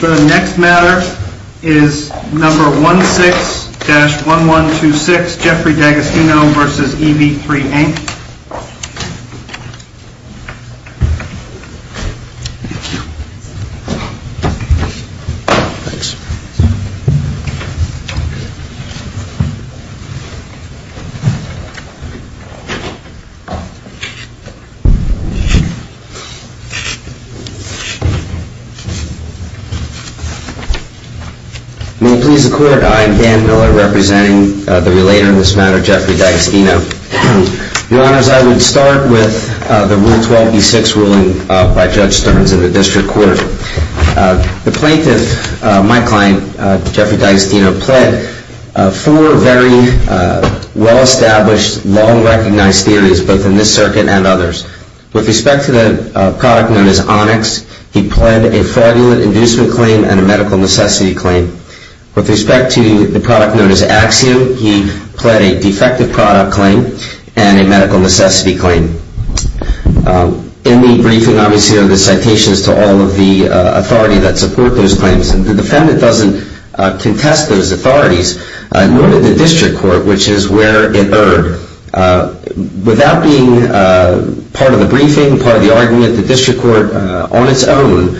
The next matter is number 16-1126, Jeffrey D'Agostino v. EV3, Inc. May it please the Court, I am Dan Miller representing the relator in this matter, Jeffrey D'Agostino. Your Honors, I would start with the Rule 12-B-6 ruling by Judge Stearns in the District Court. The plaintiff, my client, Jeffrey D'Agostino, pled four very well-established, long-recognized theories, both in this circuit and others. With respect to the product known as Onyx, he pled a fraudulent inducement claim and a medical necessity claim. With respect to the product known as Axiom, he pled a defective product claim and a medical necessity claim. In the briefing, obviously, are the citations to all of the authority that support those claims. The defendant doesn't contest those authorities, nor did the District Court, which is where it erred. Without being part of the briefing, part of the argument, the District Court, on its own,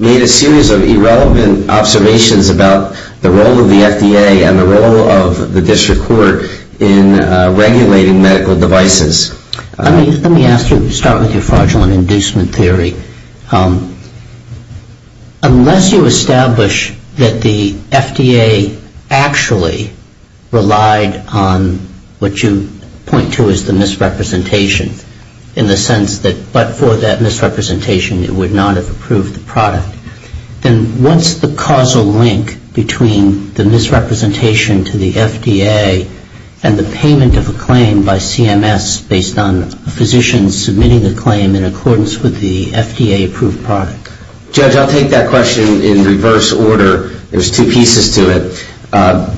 made a series of irrelevant observations about the role of the FDA and the role of the District Court in regulating medical devices. Let me ask you to start with your fraudulent inducement theory. Unless you establish that the FDA actually relied on what you point to as the misrepresentation, in the sense that but for that misrepresentation it would not have approved the product, then what's the causal link between the misrepresentation to the FDA and the payment of a claim by CMS based on a physician submitting a claim in accordance with the FDA-approved product? Judge, I'll take that question in reverse order. There's two pieces to it.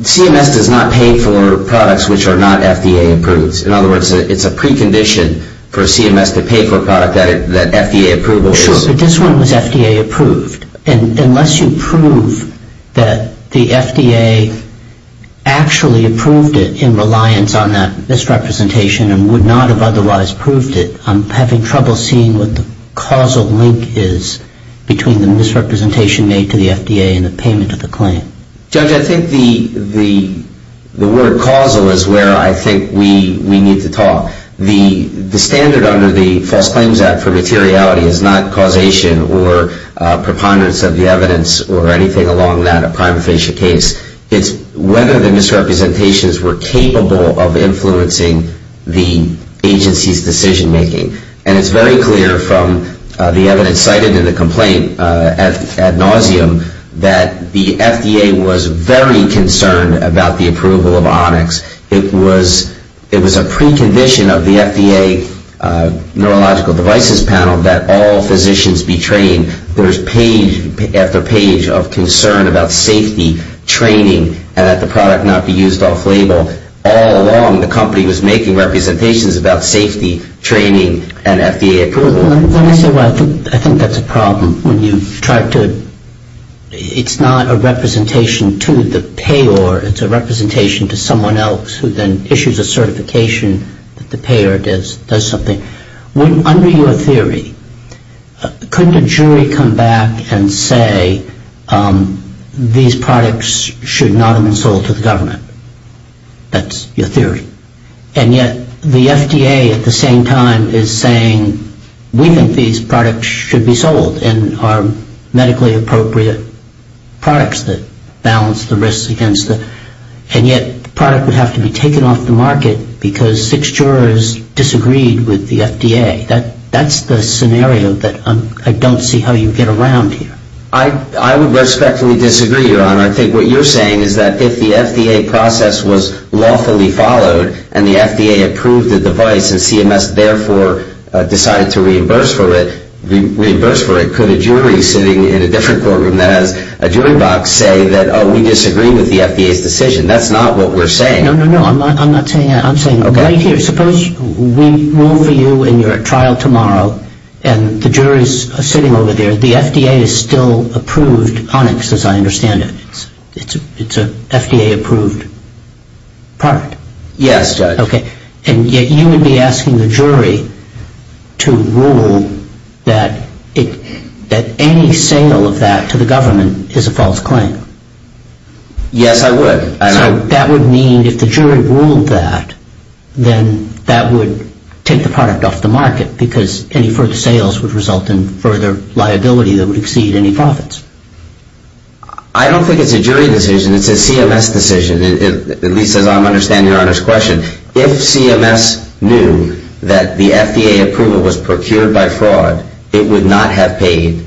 CMS does not pay for products which are not FDA-approved. In other words, it's a precondition for CMS to pay for a product that FDA approval is. Sure, but this one was FDA-approved. Unless you prove that the FDA actually approved it in reliance on that misrepresentation and would not have otherwise proved it, I'm having trouble seeing what the causal link is between the misrepresentation made to the FDA and the payment of the claim. Judge, I think the word causal is where I think we need to talk. The standard under the False Claims Act for materiality is not causation or preponderance of the evidence or anything along that, a prima facie case. It's whether the misrepresentations were capable of influencing the agency's decision making. And it's very clear from the evidence cited in the complaint ad nauseum that the FDA was very concerned about the approval of Onyx. It was a precondition of the FDA Neurological Devices Panel that all physicians be trained. There's page after page of concern about safety, training, and that the product not be used off-label. All along, the company was making representations about safety, training, and FDA approval. Let me say why I think that's a problem. It's not a representation to the payer. It's a representation to someone else who then issues a certification that the payer does something. Under your theory, couldn't a jury come back and say these products should not have been sold to the government? That's your theory. And yet the FDA at the same time is saying we think these products should be sold and are medically appropriate products that balance the risks against them. And yet the product would have to be taken off the market because six jurors disagreed with the FDA. That's the scenario that I don't see how you get around here. I would respectfully disagree, Your Honor. I think what you're saying is that if the FDA process was lawfully followed and the FDA approved the device and CMS therefore decided to reimburse for it, could a jury sitting in a different courtroom that has a jury box say that, oh, we disagree with the FDA's decision? That's not what we're saying. No, no, no. I'm not saying that. I'm saying right here, suppose we move you and you're at trial tomorrow and the jury's sitting over there. The FDA is still approved Onyx as I understand it. It's an FDA approved product. Yes, Judge. Okay. And yet you would be asking the jury to rule that any sale of that to the government is a false claim. Yes, I would. So that would mean if the jury ruled that, then that would take the product off the market because any further sales would result in further liability that would exceed any profits. I don't think it's a jury decision. It's a CMS decision, at least as I'm understanding Your Honor's question. If CMS knew that the FDA approval was procured by fraud, it would not have paid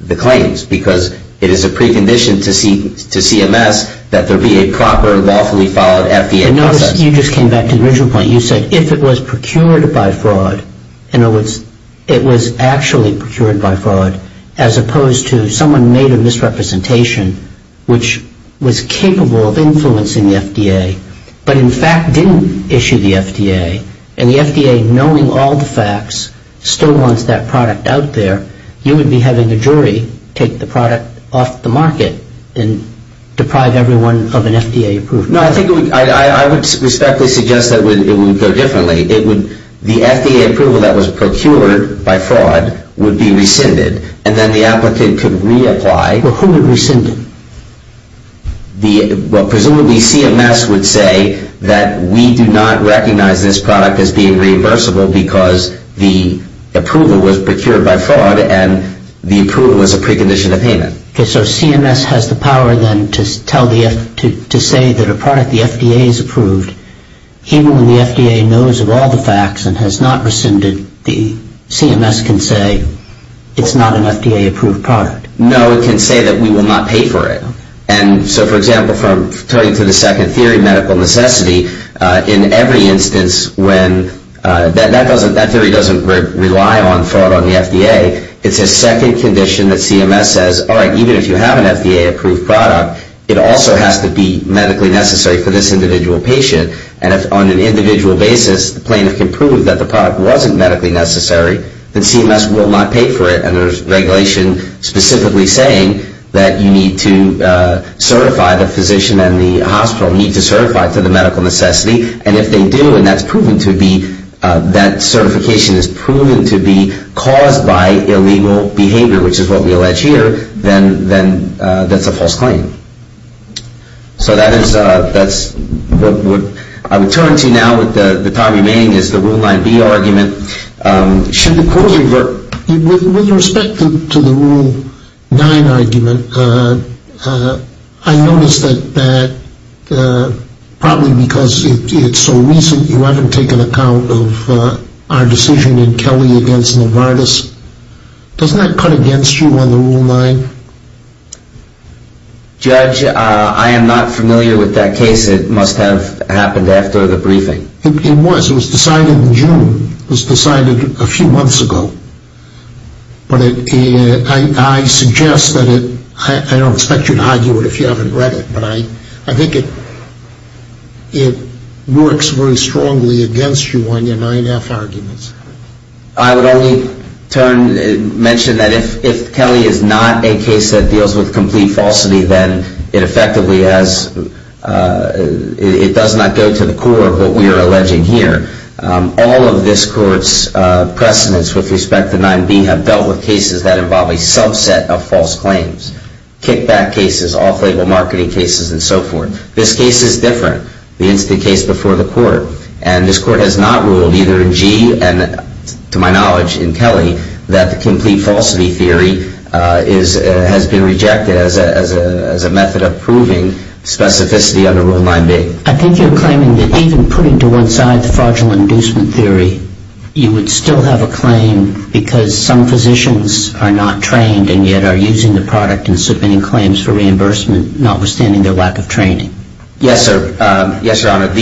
the claims because it is a precondition to CMS that there be a proper lawfully followed FDA process. You just came back to the original point. You said if it was procured by fraud, in other words, it was actually procured by fraud, as opposed to someone made a misrepresentation which was capable of influencing the FDA but in fact didn't issue the FDA and the FDA, knowing all the facts, still wants that product out there, you would be having a jury take the product off the market and deprive everyone of an FDA approval. No, I would respectfully suggest that it would go differently. The FDA approval that was procured by fraud would be rescinded, and then the applicant could reapply. Who would rescind it? Presumably CMS would say that we do not recognize this product as being reimbursable because the approval was procured by fraud and the approval was a precondition of payment. Okay, so CMS has the power then to say that a product the FDA has approved, even when the FDA knows of all the facts and has not rescinded, the CMS can say it's not an FDA approved product. No, it can say that we will not pay for it. And so, for example, from turning to the second theory, medical necessity, in every instance when that theory doesn't rely on fraud on the FDA, it's a second condition that CMS says, all right, even if you have an FDA approved product, it also has to be medically necessary for this individual patient. And if on an individual basis the plaintiff can prove that the product wasn't medically necessary, then CMS will not pay for it. And there's regulation specifically saying that you need to certify the physician and the hospital need to certify to the medical necessity. And if they do and that's proven to be, that certification is proven to be caused by illegal behavior, which is what we allege here, then that's a false claim. So that is what I would turn to now with the time remaining is the Rule 9B argument. Should the court revert? With respect to the Rule 9 argument, I noticed that probably because it's so recent, you haven't taken account of our decision in Kelly against Novartis. Doesn't that cut against you on the Rule 9? Judge, I am not familiar with that case. It must have happened after the briefing. It was. It was decided in June. It was decided a few months ago. But I suggest that it, I don't expect you to argue it if you haven't read it, but I think it works very strongly against you on your 9F arguments. I would only mention that if Kelly is not a case that deals with complete falsity, then it effectively has, it does not go to the core of what we are alleging here. All of this court's precedents with respect to 9B have dealt with cases that involve a subset of false claims. Kickback cases, off-label marketing cases, and so forth. This case is different. The incident case before the court. And this court has not ruled either in G and, to my knowledge, in Kelly, that the complete falsity theory has been rejected as a method of proving specificity under Rule 9B. I think you're claiming that even putting to one side the fraudulent inducement theory, you would still have a claim because some physicians are not trained and yet are using the product and submitting claims for reimbursement, notwithstanding their lack of training. Yes, sir. Yes, Your Honor.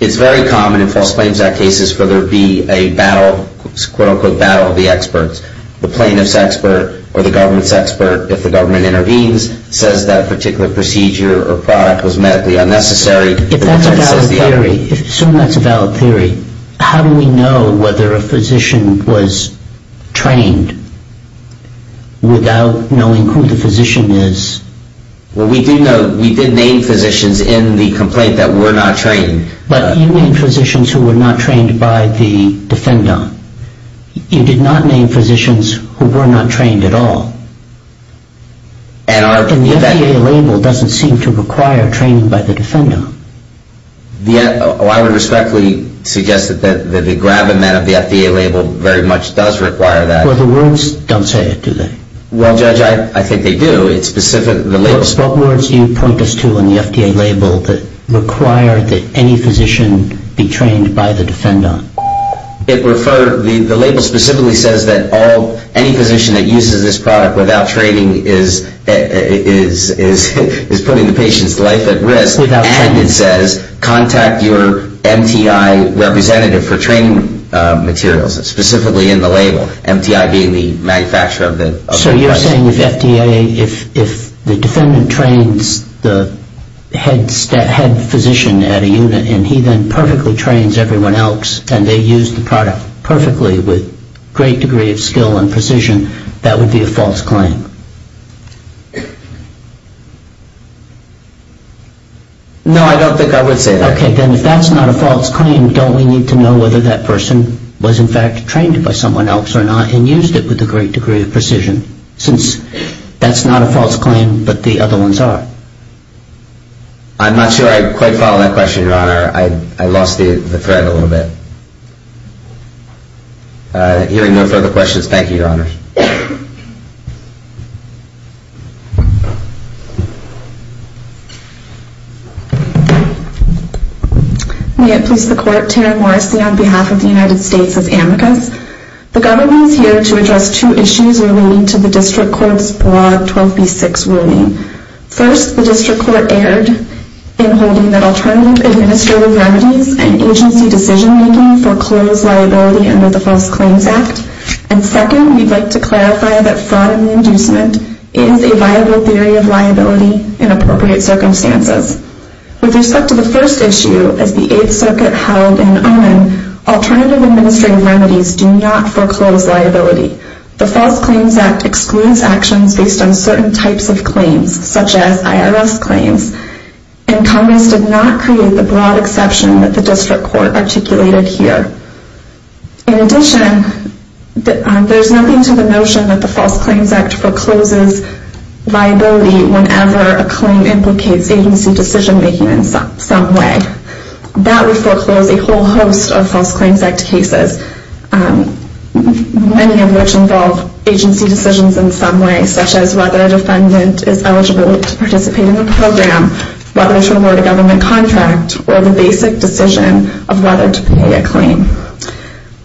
It's very common in False Claims Act cases for there to be a battle, a quote-unquote battle of the experts. The plaintiff's expert or the government's expert, if the government intervenes, says that particular procedure or product was medically unnecessary. If that's a valid theory, if so and that's a valid theory, how do we know whether a physician was trained without knowing who the physician is? Well, we did name physicians in the complaint that were not trained. But you named physicians who were not trained by the defendant. You did not name physicians who were not trained at all. And the FDA label doesn't seem to require training by the defendant. I would respectfully suggest that the gravamen of the FDA label very much does require that. Well, the words don't say it, do they? Well, Judge, I think they do. What words do you point us to in the FDA label that require that any physician be trained by the defendant? The label specifically says that any physician that uses this product without training is putting the patient's life at risk. Without training. And it says contact your MTI representative for training materials. It's specifically in the label, MTI being the manufacturer of the product. So you're saying if FDA, if the defendant trains the head physician at a unit and he then perfectly trains everyone else and they use the product perfectly with great degree of skill and precision, that would be a false claim? No, I don't think I would say that. Okay, then if that's not a false claim, don't we need to know whether that person was in fact trained by someone else or not and used it with a great degree of precision since that's not a false claim but the other ones are? I'm not sure I quite follow that question, Your Honor. I lost the thread a little bit. Hearing no further questions, thank you, Your Honor. May it please the Court, on behalf of the United States as amicus, the government is here to address two issues relating to the district court's broad 12B6 ruling. First, the district court erred in holding that alternative administrative remedies and agency decision-making foreclose liability under the False Claims Act. And second, we'd like to clarify that fraud and inducement is a viable theory of liability in appropriate circumstances. With respect to the first issue, as the Eighth Circuit held in Oman, alternative administrative remedies do not foreclose liability. The False Claims Act excludes actions based on certain types of claims, such as IRS claims, and Congress did not create the broad exception that the district court articulated here. In addition, there's nothing to the notion that the False Claims Act forecloses liability whenever a claim implicates agency decision-making in some way. That would foreclose a whole host of False Claims Act cases, many of which involve agency decisions in some way, such as whether a defendant is eligible to participate in a program, whether to award a government contract, or the basic decision of whether to pay a claim.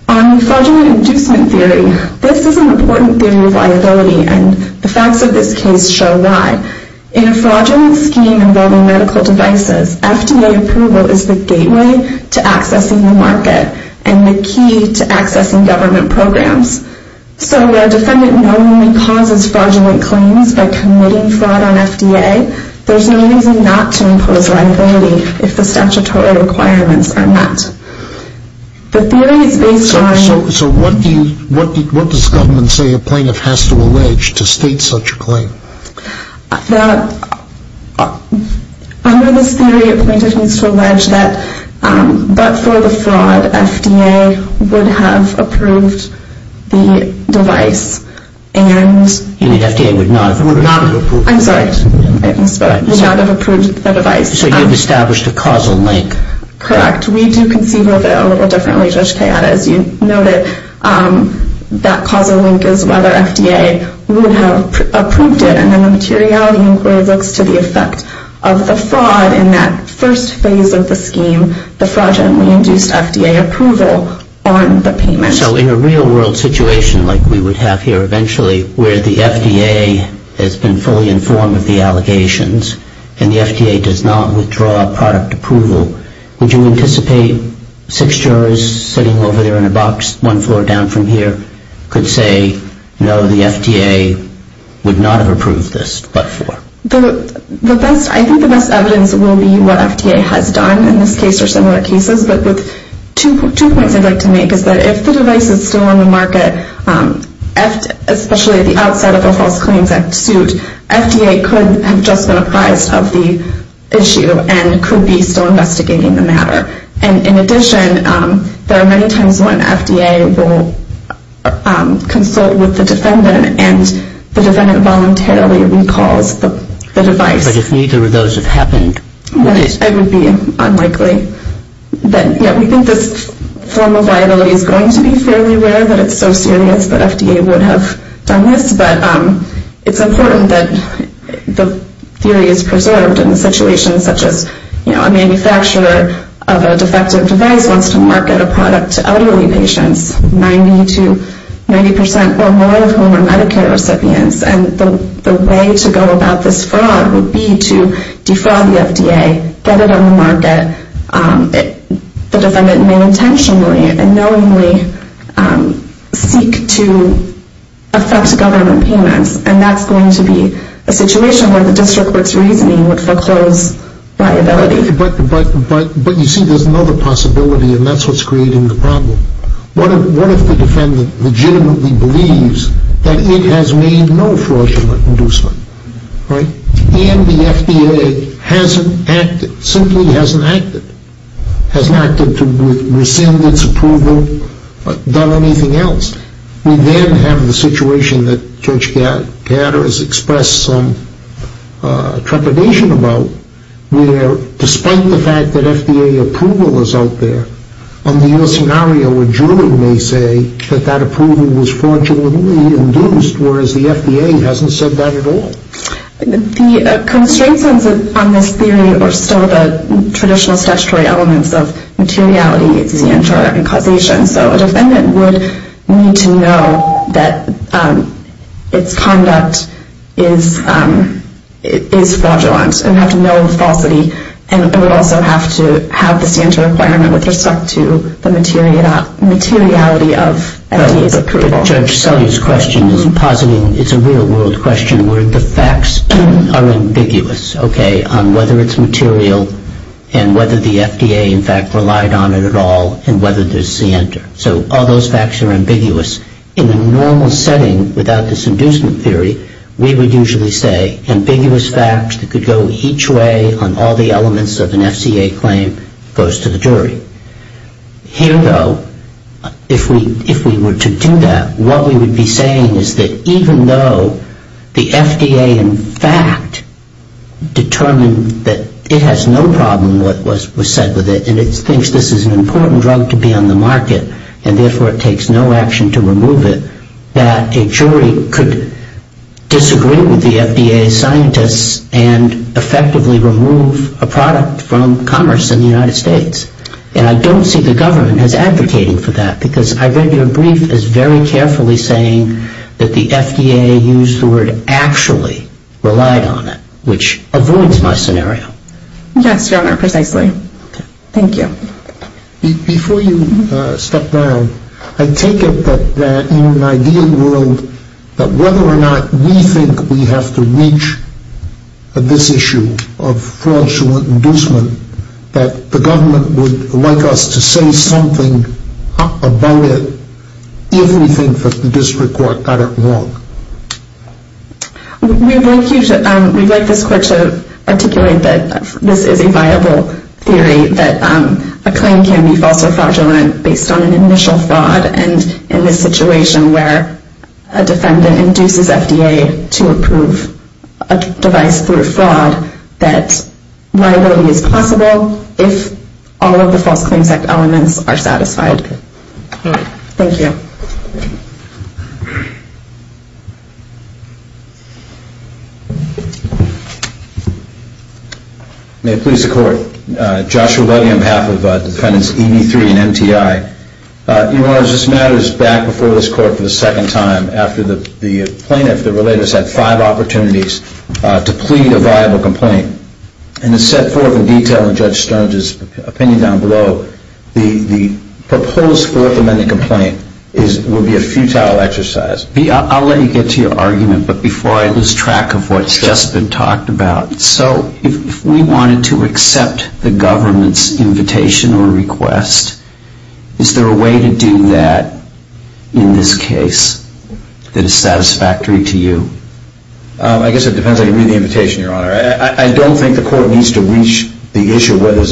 On fraudulent inducement theory, this is an important theory of liability, and the facts of this case show why. In a fraudulent scheme involving medical devices, FDA approval is the gateway to accessing the market and the key to accessing government programs. So while a defendant not only causes fraudulent claims by committing fraud on FDA, there's no reason not to impose liability if the statutory requirements are met. The theory is based on... So what does government say a plaintiff has to allege to state such a claim? Under this theory, a plaintiff needs to allege that, but for the fraud, FDA would have approved the device and... You mean FDA would not have approved the device? I'm sorry. FDA would not have approved the device. So you've established a causal link. Correct. We do conceive of it a little differently, Judge Kayada. As you noted, that causal link is whether FDA would have approved it, and then the materiality inquiry looks to the effect of the fraud in that first phase of the scheme, the fraudulently induced FDA approval on the payment. So in a real-world situation like we would have here eventually, where the FDA has been fully informed of the allegations and the FDA does not withdraw product approval, would you anticipate six jurors sitting over there in a box one floor down from here could say, no, the FDA would not have approved this, but for? I think the best evidence will be what FDA has done in this case or similar cases, but two points I'd like to make is that if the device is still on the market, especially at the outset of a False Claims Act suit, FDA could have just been advised of the issue and could be still investigating the matter. And in addition, there are many times when FDA will consult with the defendant and the defendant voluntarily recalls the device. But if neither of those have happened, would it? It would be unlikely. We think this form of liability is going to be fairly rare, that it's so serious that FDA would have done this, but it's important that the theory is preserved in situations such as a manufacturer of a defective device wants to market a product to elderly patients, 90% or more of whom are Medicare recipients, and the way to go about this fraud would be to defraud the FDA, get it on the market. The defendant may intentionally and knowingly seek to affect government payments, and that's going to be a situation where the district court's reasoning would foreclose liability. But you see, there's another possibility, and that's what's creating the problem. What if the defendant legitimately believes that it has made no fraudulent inducement, right? And the FDA hasn't acted, simply hasn't acted, hasn't acted to rescind its approval, done anything else. We then have the situation that Judge Gatter has expressed some trepidation about, where despite the fact that FDA approval is out there, under your scenario a jury may say that that approval was fraudulently induced, whereas the FDA hasn't said that at all. The constraints on this theory are still the traditional statutory elements of materiality, scienter, and causation. So a defendant would need to know that its conduct is fraudulent and have to know the falsity, and it would also have to have the scienter requirement with respect to the materiality of FDA's approval. But Judge Sellier's question is positing, it's a real world question, where the facts are ambiguous, okay, on whether it's material and whether the FDA in fact relied on it at all and whether there's scienter. So all those facts are ambiguous. In a normal setting without this inducement theory, we would usually say ambiguous facts that could go each way on all the elements of an FCA claim goes to the jury. Here, though, if we were to do that, what we would be saying is that even though the FDA in fact determined that it has no problem with what was said with it and it thinks this is an important drug to be on the market and therefore it takes no action to remove it, that a jury could disagree with the FDA's scientists and effectively remove a product from commerce in the United States. And I don't see the government as advocating for that because I read your brief as very carefully saying that the FDA used the word actually relied on it, which avoids my scenario. Yes, Your Honor, precisely. Thank you. Before you step down, I take it that in an ideal world, that whether or not we think we have to reach this issue of fraudulent inducement, that the government would like us to say something about it if we think that the district court got it wrong. We'd like this court to articulate that this is a viable theory, that a claim can be false or fraudulent based on an initial fraud and in this situation where a defendant induces FDA to approve a device through fraud, that liability is possible if all of the False Claims Act elements are satisfied. Thank you. May it please the Court. Joshua Levy on behalf of defendants EB3 and MTI. Your Honor, this matter is back before this court for the second time after the plaintiff, the relator, said five opportunities to plead a viable complaint. And it's set forth in detail in Judge Stern's opinion down below. The proposed Fourth Amendment complaint will be a futile exercise. I'll let you get to your argument, but before I lose track of what's just been talked about. So if we wanted to accept the government's invitation or request, is there a way to do that in this case that is satisfactory to you? I guess it depends on the invitation, Your Honor. I don't think the court needs to reach the issue whether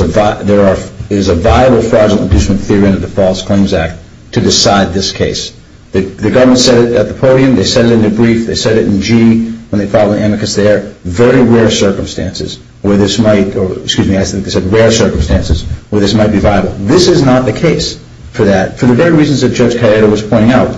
there is a viable fraudulent inducement theory under the False Claims Act to decide this case. The government said it at the podium. They said it in the brief. They said it in GE when they filed an amicus there. Very rare circumstances where this might be viable. This is not the case for that. For the very reasons that Judge Cayetano was pointing out,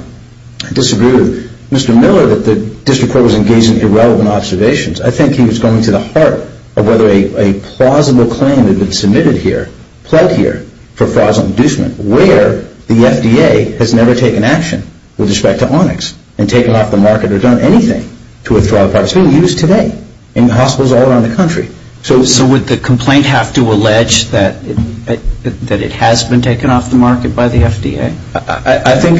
I disagree with Mr. Miller that this report was engaged in irrelevant observations. I think he was going to the heart of whether a plausible claim had been submitted here, pled here for fraudulent inducement, where the FDA has never taken action with respect to Onyx and taken off the market or done anything to withdraw the product. It's being used today in hospitals all around the country. So would the complaint have to allege that it has been taken off the market by the FDA? I think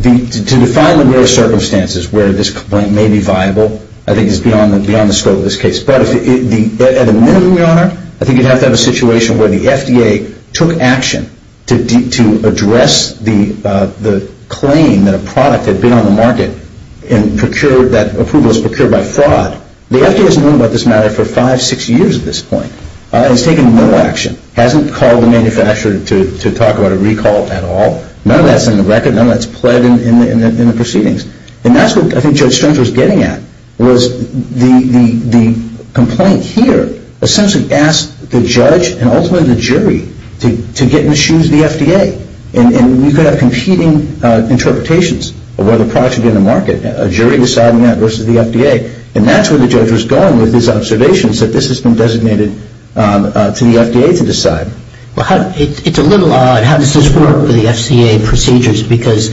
to define the rare circumstances where this complaint may be viable, I think it's beyond the scope of this case. But at the minute, Your Honor, I think you'd have to have a situation where the FDA took action to address the claim that a product had been on the market and that approval was procured by fraud. The FDA has known about this matter for five, six years at this point. It's taken no action. It hasn't called the manufacturer to talk about a recall at all. None of that's in the record. None of that's pled in the proceedings. And that's what I think Judge Strunk was getting at, was the complaint here essentially asked the judge and ultimately the jury to get in the shoes of the FDA. And we could have competing interpretations of whether a product should be on the market. A jury deciding that versus the FDA. And that's where the judge was going with his observations that this has been designated to the FDA to decide. It's a little odd. How does this work with the FCA procedures? Because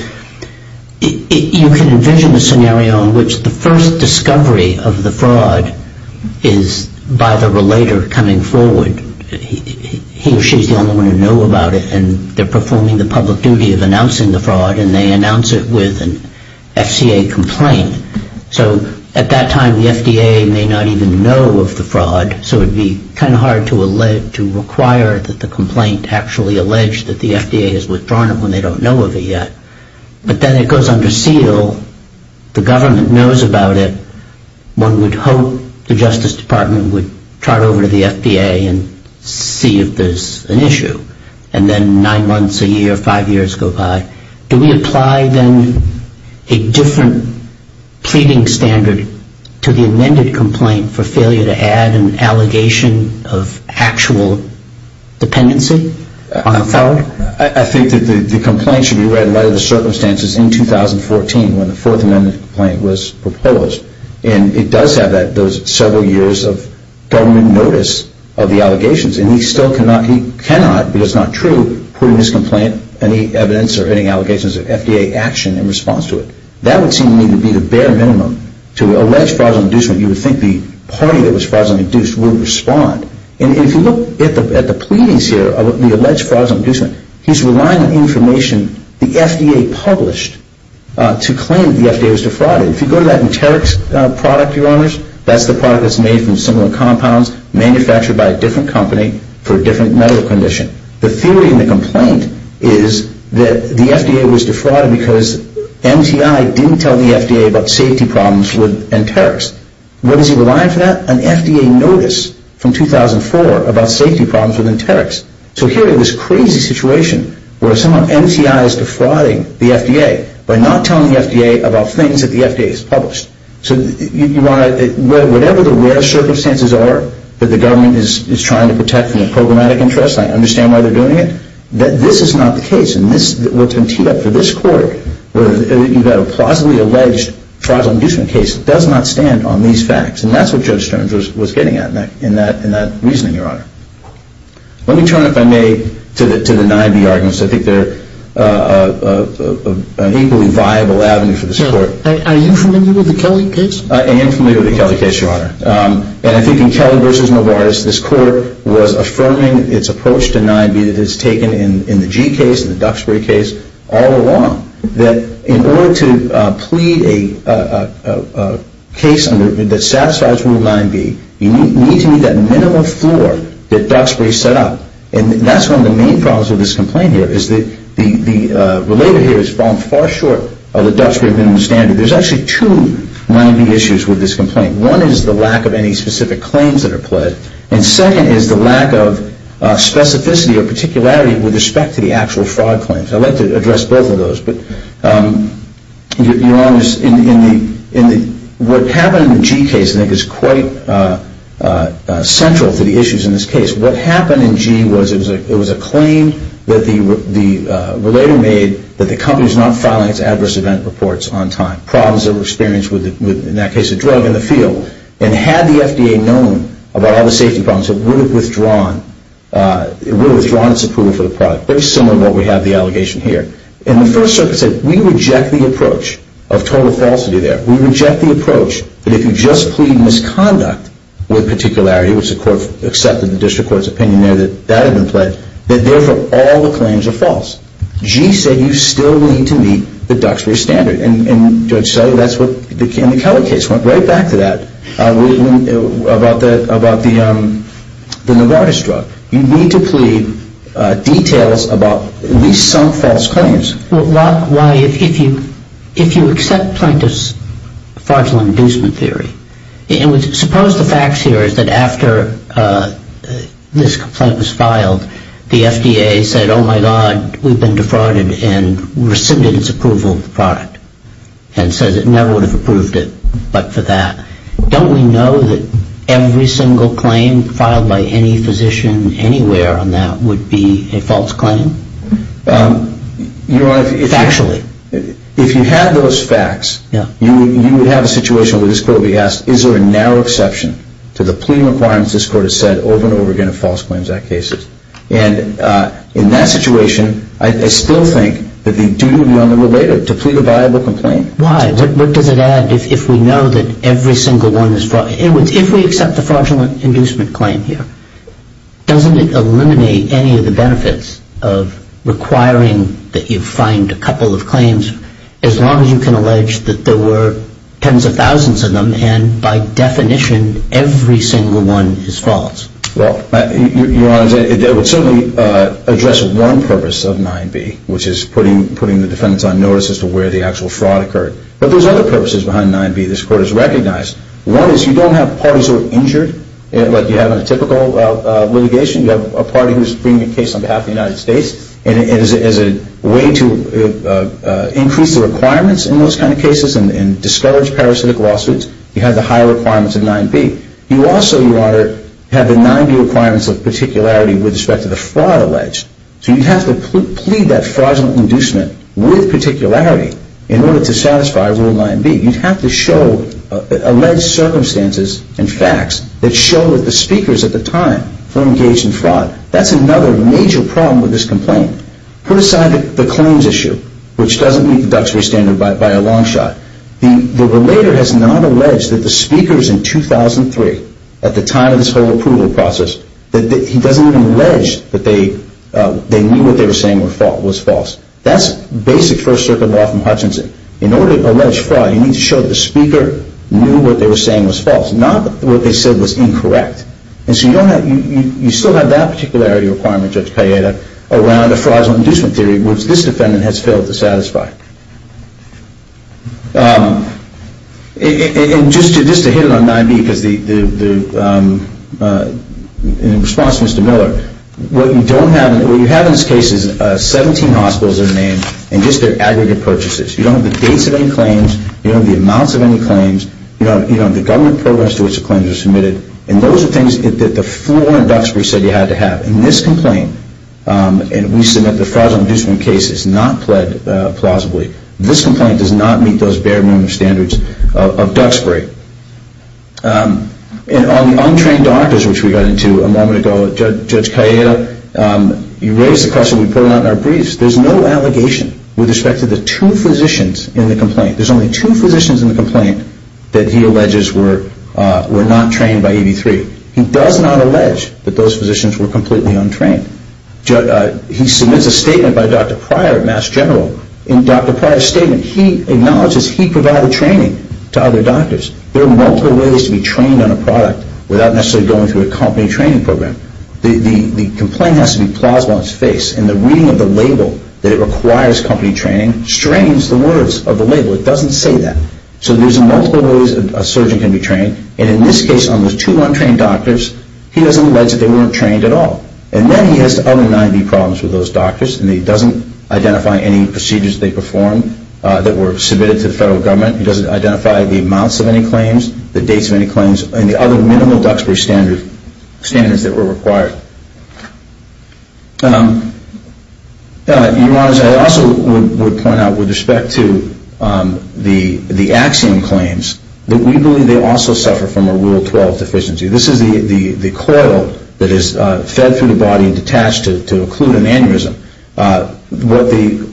you can envision a scenario in which the first discovery of the fraud is by the relator coming forward. He or she is the only one who knows about it and they're performing the public duty of announcing the fraud and they announce it with an FCA complaint. So at that time the FDA may not even know of the fraud, so it would be kind of hard to require that the complaint actually allege that the FDA has withdrawn it when they don't know of it yet. But then it goes under seal. The government knows about it. One would hope the Justice Department would turn over to the FDA and see if there's an issue. And then nine months, a year, five years go by. Do we apply then a different pleading standard to the amended complaint for failure to add an allegation of actual dependency on the felon? I think that the complaint should be read in light of the circumstances in 2014 when the Fourth Amendment complaint was proposed. And it does have those several years of government notice of the allegations. And he still cannot, because it's not true, put in his complaint any evidence or any allegations of FDA action in response to it. That would seem to me to be the bare minimum to allege fraudulent inducement. You would think the party that was fraudulently induced would respond. And if you look at the pleadings here of the alleged fraudulent inducement, he's relying on information the FDA published to claim that the FDA was defrauded. If you go to that Enterix product, Your Honors, that's the product that's made from similar compounds, manufactured by a different company for a different medical condition. The theory in the complaint is that the FDA was defrauded because MTI didn't tell the FDA about safety problems with Enterix. What does he rely on for that? He's got an FDA notice from 2004 about safety problems with Enterix. So here we have this crazy situation where someone MTIs defrauding the FDA by not telling the FDA about things that the FDA has published. So whatever the rare circumstances are that the government is trying to protect from the programmatic interest, I understand why they're doing it. This is not the case. And what's been teed up for this court, you've got a plausibly alleged fraudulent inducement case. This case does not stand on these facts. And that's what Judge Stearns was getting at in that reasoning, Your Honor. Let me turn, if I may, to the 9B arguments. I think they're an equally viable avenue for this court. Are you familiar with the Kelly case? I am familiar with the Kelly case, Your Honor. And I think in Kelly v. Novartis, this court was affirming its approach to 9B that is taken in the Gee case and the Duxbury case all along, that in order to plead a case that satisfies Rule 9B, you need to meet that minimum floor that Duxbury set up. And that's one of the main problems with this complaint here, is that the relator here has fallen far short of the Duxbury minimum standard. There's actually two 9B issues with this complaint. One is the lack of any specific claims that are pled. And second is the lack of specificity or particularity with respect to the actual fraud claims. I'd like to address both of those. Your Honor, what happened in the Gee case, I think, is quite central to the issues in this case. What happened in Gee was it was a claim that the relator made that the company was not filing its adverse event reports on time. Problems that were experienced with, in that case, a drug in the field. And had the FDA known about all the safety problems, it would have withdrawn its approval for the product. Very similar to what we have the allegation here. And the First Circuit said, we reject the approach of total falsity there. We reject the approach that if you just plead misconduct with particularity, which the court accepted the district court's opinion there that that had been pled, that therefore all the claims are false. Gee said you still need to meet the Duxbury standard. And Judge Sellier, that's what, in the Kelly case, went right back to that about the Novartis drug. You need to plead details about at least some false claims. Why, if you accept plaintiff's fraudulent inducement theory, and suppose the facts here is that after this complaint was filed, the FDA said, oh, my God, we've been defrauded and rescinded its approval of the product. And says it never would have approved it but for that. Don't we know that every single claim filed by any physician anywhere on that would be a false claim? Your Honor, if you had those facts, you would have a situation where this court would be asked, is there a narrow exception to the plea requirements this court has said over and over again in false claims act cases? And in that situation, I still think that the duty would be unrelated to plead a viable complaint. Why? What does it add if we know that every single one is false? If we accept the fraudulent inducement claim here, doesn't it eliminate any of the benefits of requiring that you find a couple of claims as long as you can allege that there were tens of thousands of them and by definition every single one is false? Well, Your Honor, that would certainly address one purpose of 9B, which is putting the defendants on notice as to where the actual fraud occurred. But there's other purposes behind 9B this court has recognized. One is you don't have parties who are injured like you have in a typical litigation. You have a party who's bringing a case on behalf of the United States and as a way to increase the requirements in those kind of cases and discourage parasitic lawsuits, you have the higher requirements of 9B. You also, Your Honor, have the 9B requirements of particularity with respect to the fraud alleged. So you have to plead that fraudulent inducement with particularity in order to satisfy Rule 9B. You have to show alleged circumstances and facts that show that the speakers at the time were engaged in fraud. That's another major problem with this complaint. Put aside the claims issue, which doesn't meet the Duxbury Standard by a long shot. The relator has not alleged that the speakers in 2003, at the time of this whole approval process, that he doesn't even allege that they knew what they were saying was false. That's basic First Circuit law from Hutchinson. In order to allege fraud, you need to show that the speaker knew what they were saying was false, not what they said was incorrect. And so you still have that particularity requirement, Judge Pallietta, around a fraudulent inducement theory, which this defendant has failed to satisfy. And just to hit it on 9B, in response to Mr. Miller, what you have in this case is 17 hospitals in the name and just their aggregate purchases. You don't have the dates of any claims. You don't have the amounts of any claims. You don't have the government programs to which the claims were submitted. And those are things that the floor in Duxbury said you had to have. In this complaint, and we submit the fraudulent inducement case, it's not pled plausibly. This complaint does not meet those bare minimum standards of Duxbury. And on the untrained doctors, which we got into a moment ago, Judge Pallietta, you raised the question we put out in our briefs. There's no allegation with respect to the two physicians in the complaint. There's only two physicians in the complaint that he alleges were not trained by EV3. He does not allege that those physicians were completely untrained. He submits a statement by Dr. Pryor, Mass General. In Dr. Pryor's statement, he acknowledges he provided training to other doctors. There are multiple ways to be trained on a product without necessarily going through a company training program. The complaint has to be plausible on its face. And the reading of the label that it requires company training strains the words of the label. It doesn't say that. So there's multiple ways a surgeon can be trained. And in this case, on those two untrained doctors, he doesn't allege that they weren't trained at all. And then he has the other 90 problems with those doctors. And he doesn't identify any procedures they performed that were submitted to the federal government. He doesn't identify the amounts of any claims, the dates of any claims, and the other minimal Duxbury standards that were required. Your Honor, I also would point out with respect to the Axiom claims, that we believe they also suffer from a Rule 12 deficiency. This is the coil that is fed through the body and detached to occlude an aneurysm.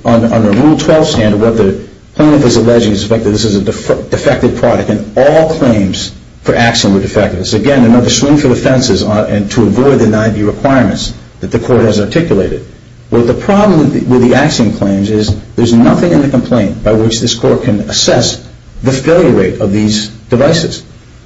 Under Rule 12 standard, what the plaintiff is alleging is the fact that this is a defective product. And all claims for Axiom are defective. So again, another swing for the fences to avoid the 90 requirements that the court has articulated. Well, the problem with the Axiom claims is there's nothing in the complaint by which this court can assess the failure rate of these devices.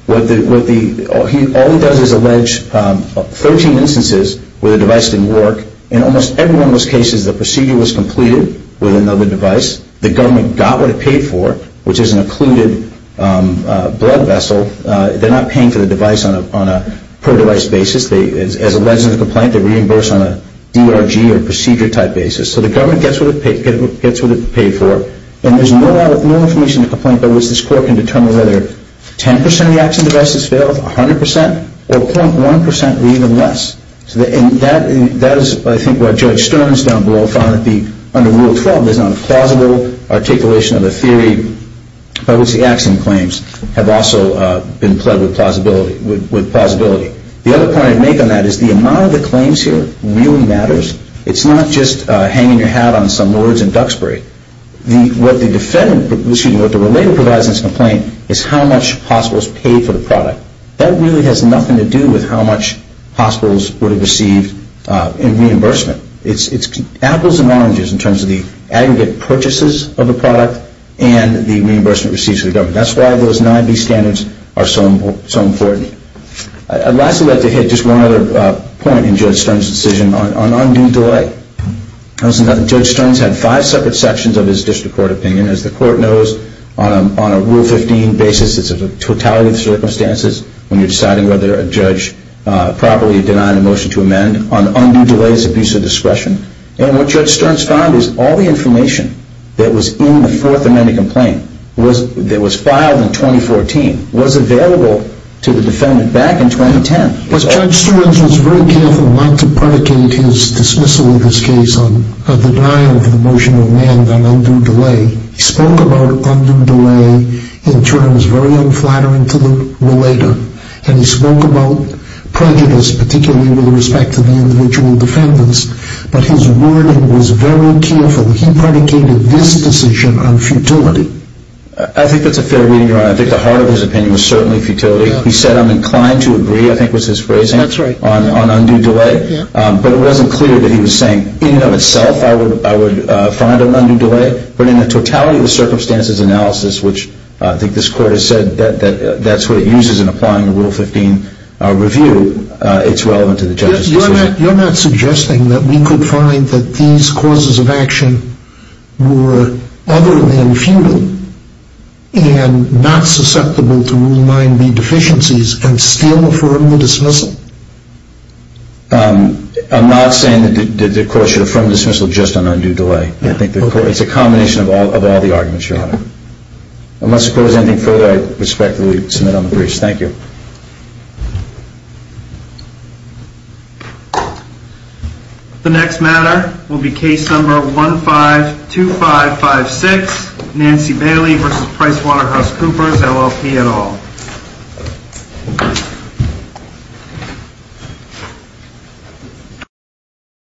All he does is allege 13 instances where the device didn't work. In almost every one of those cases, the procedure was completed with another device. The government got what it paid for, which is an occluded blood vessel. They're not paying for the device on a per-device basis. As alleged in the complaint, they're reimbursed on a DRG or procedure-type basis. So the government gets what it paid for. And there's no information in the complaint by which this court can determine whether 10 percent of the Axiom devices failed, 100 percent, or 0.1 percent or even less. And that is, I think, what Judge Stearns down below found to be under Rule 12. There's not a plausible articulation of the theory by which the Axiom claims have also been pled with plausibility. The other point I'd make on that is the amount of the claims here really matters. It's not just hanging your hat on some lords in Duxbury. What the defendant, excuse me, what the relator provides in this complaint is how much hospitals paid for the product. That really has nothing to do with how much hospitals would have received in reimbursement. It's apples and oranges in terms of the aggregate purchases of the product and the reimbursement received to the government. That's why those 9B standards are so important. I'd lastly like to hit just one other point in Judge Stearns' decision on undue delay. Judge Stearns had five separate sections of his district court opinion. As the court knows, on a Rule 15 basis, it's a totality of circumstances when you're deciding whether a judge properly denied a motion to amend. And what Judge Stearns found is all the information that was in the Fourth Amendment complaint that was filed in 2014 was available to the defendant back in 2010. Judge Stearns was very careful not to predicate his dismissal of this case on the denial of the motion to amend on undue delay. He spoke about undue delay in terms very unflattering to the relator. And he spoke about prejudice, particularly with respect to the individual defendants. But his wording was very careful. He predicated this decision on futility. I think that's a fair reading, Your Honor. I think the heart of his opinion was certainly futility. He said, I'm inclined to agree, I think was his phrasing, on undue delay. But it wasn't clear that he was saying, in and of itself, I would find an undue delay. But in the totality of the circumstances analysis, which I think this Court has said that that's what it uses in applying the Rule 15 review, it's relevant to the judge's decision. You're not suggesting that we could find that these causes of action were other than futile and not susceptible to Rule 9b deficiencies and still affirm the dismissal? I'm not saying that the Court should affirm dismissal just on undue delay. It's a combination of all the arguments, Your Honor. Unless the Court has anything further, I respectfully submit on the briefs. Thank you. The next matter will be case number 152556, Nancy Bailey v. PricewaterhouseCoopers, LLP et al.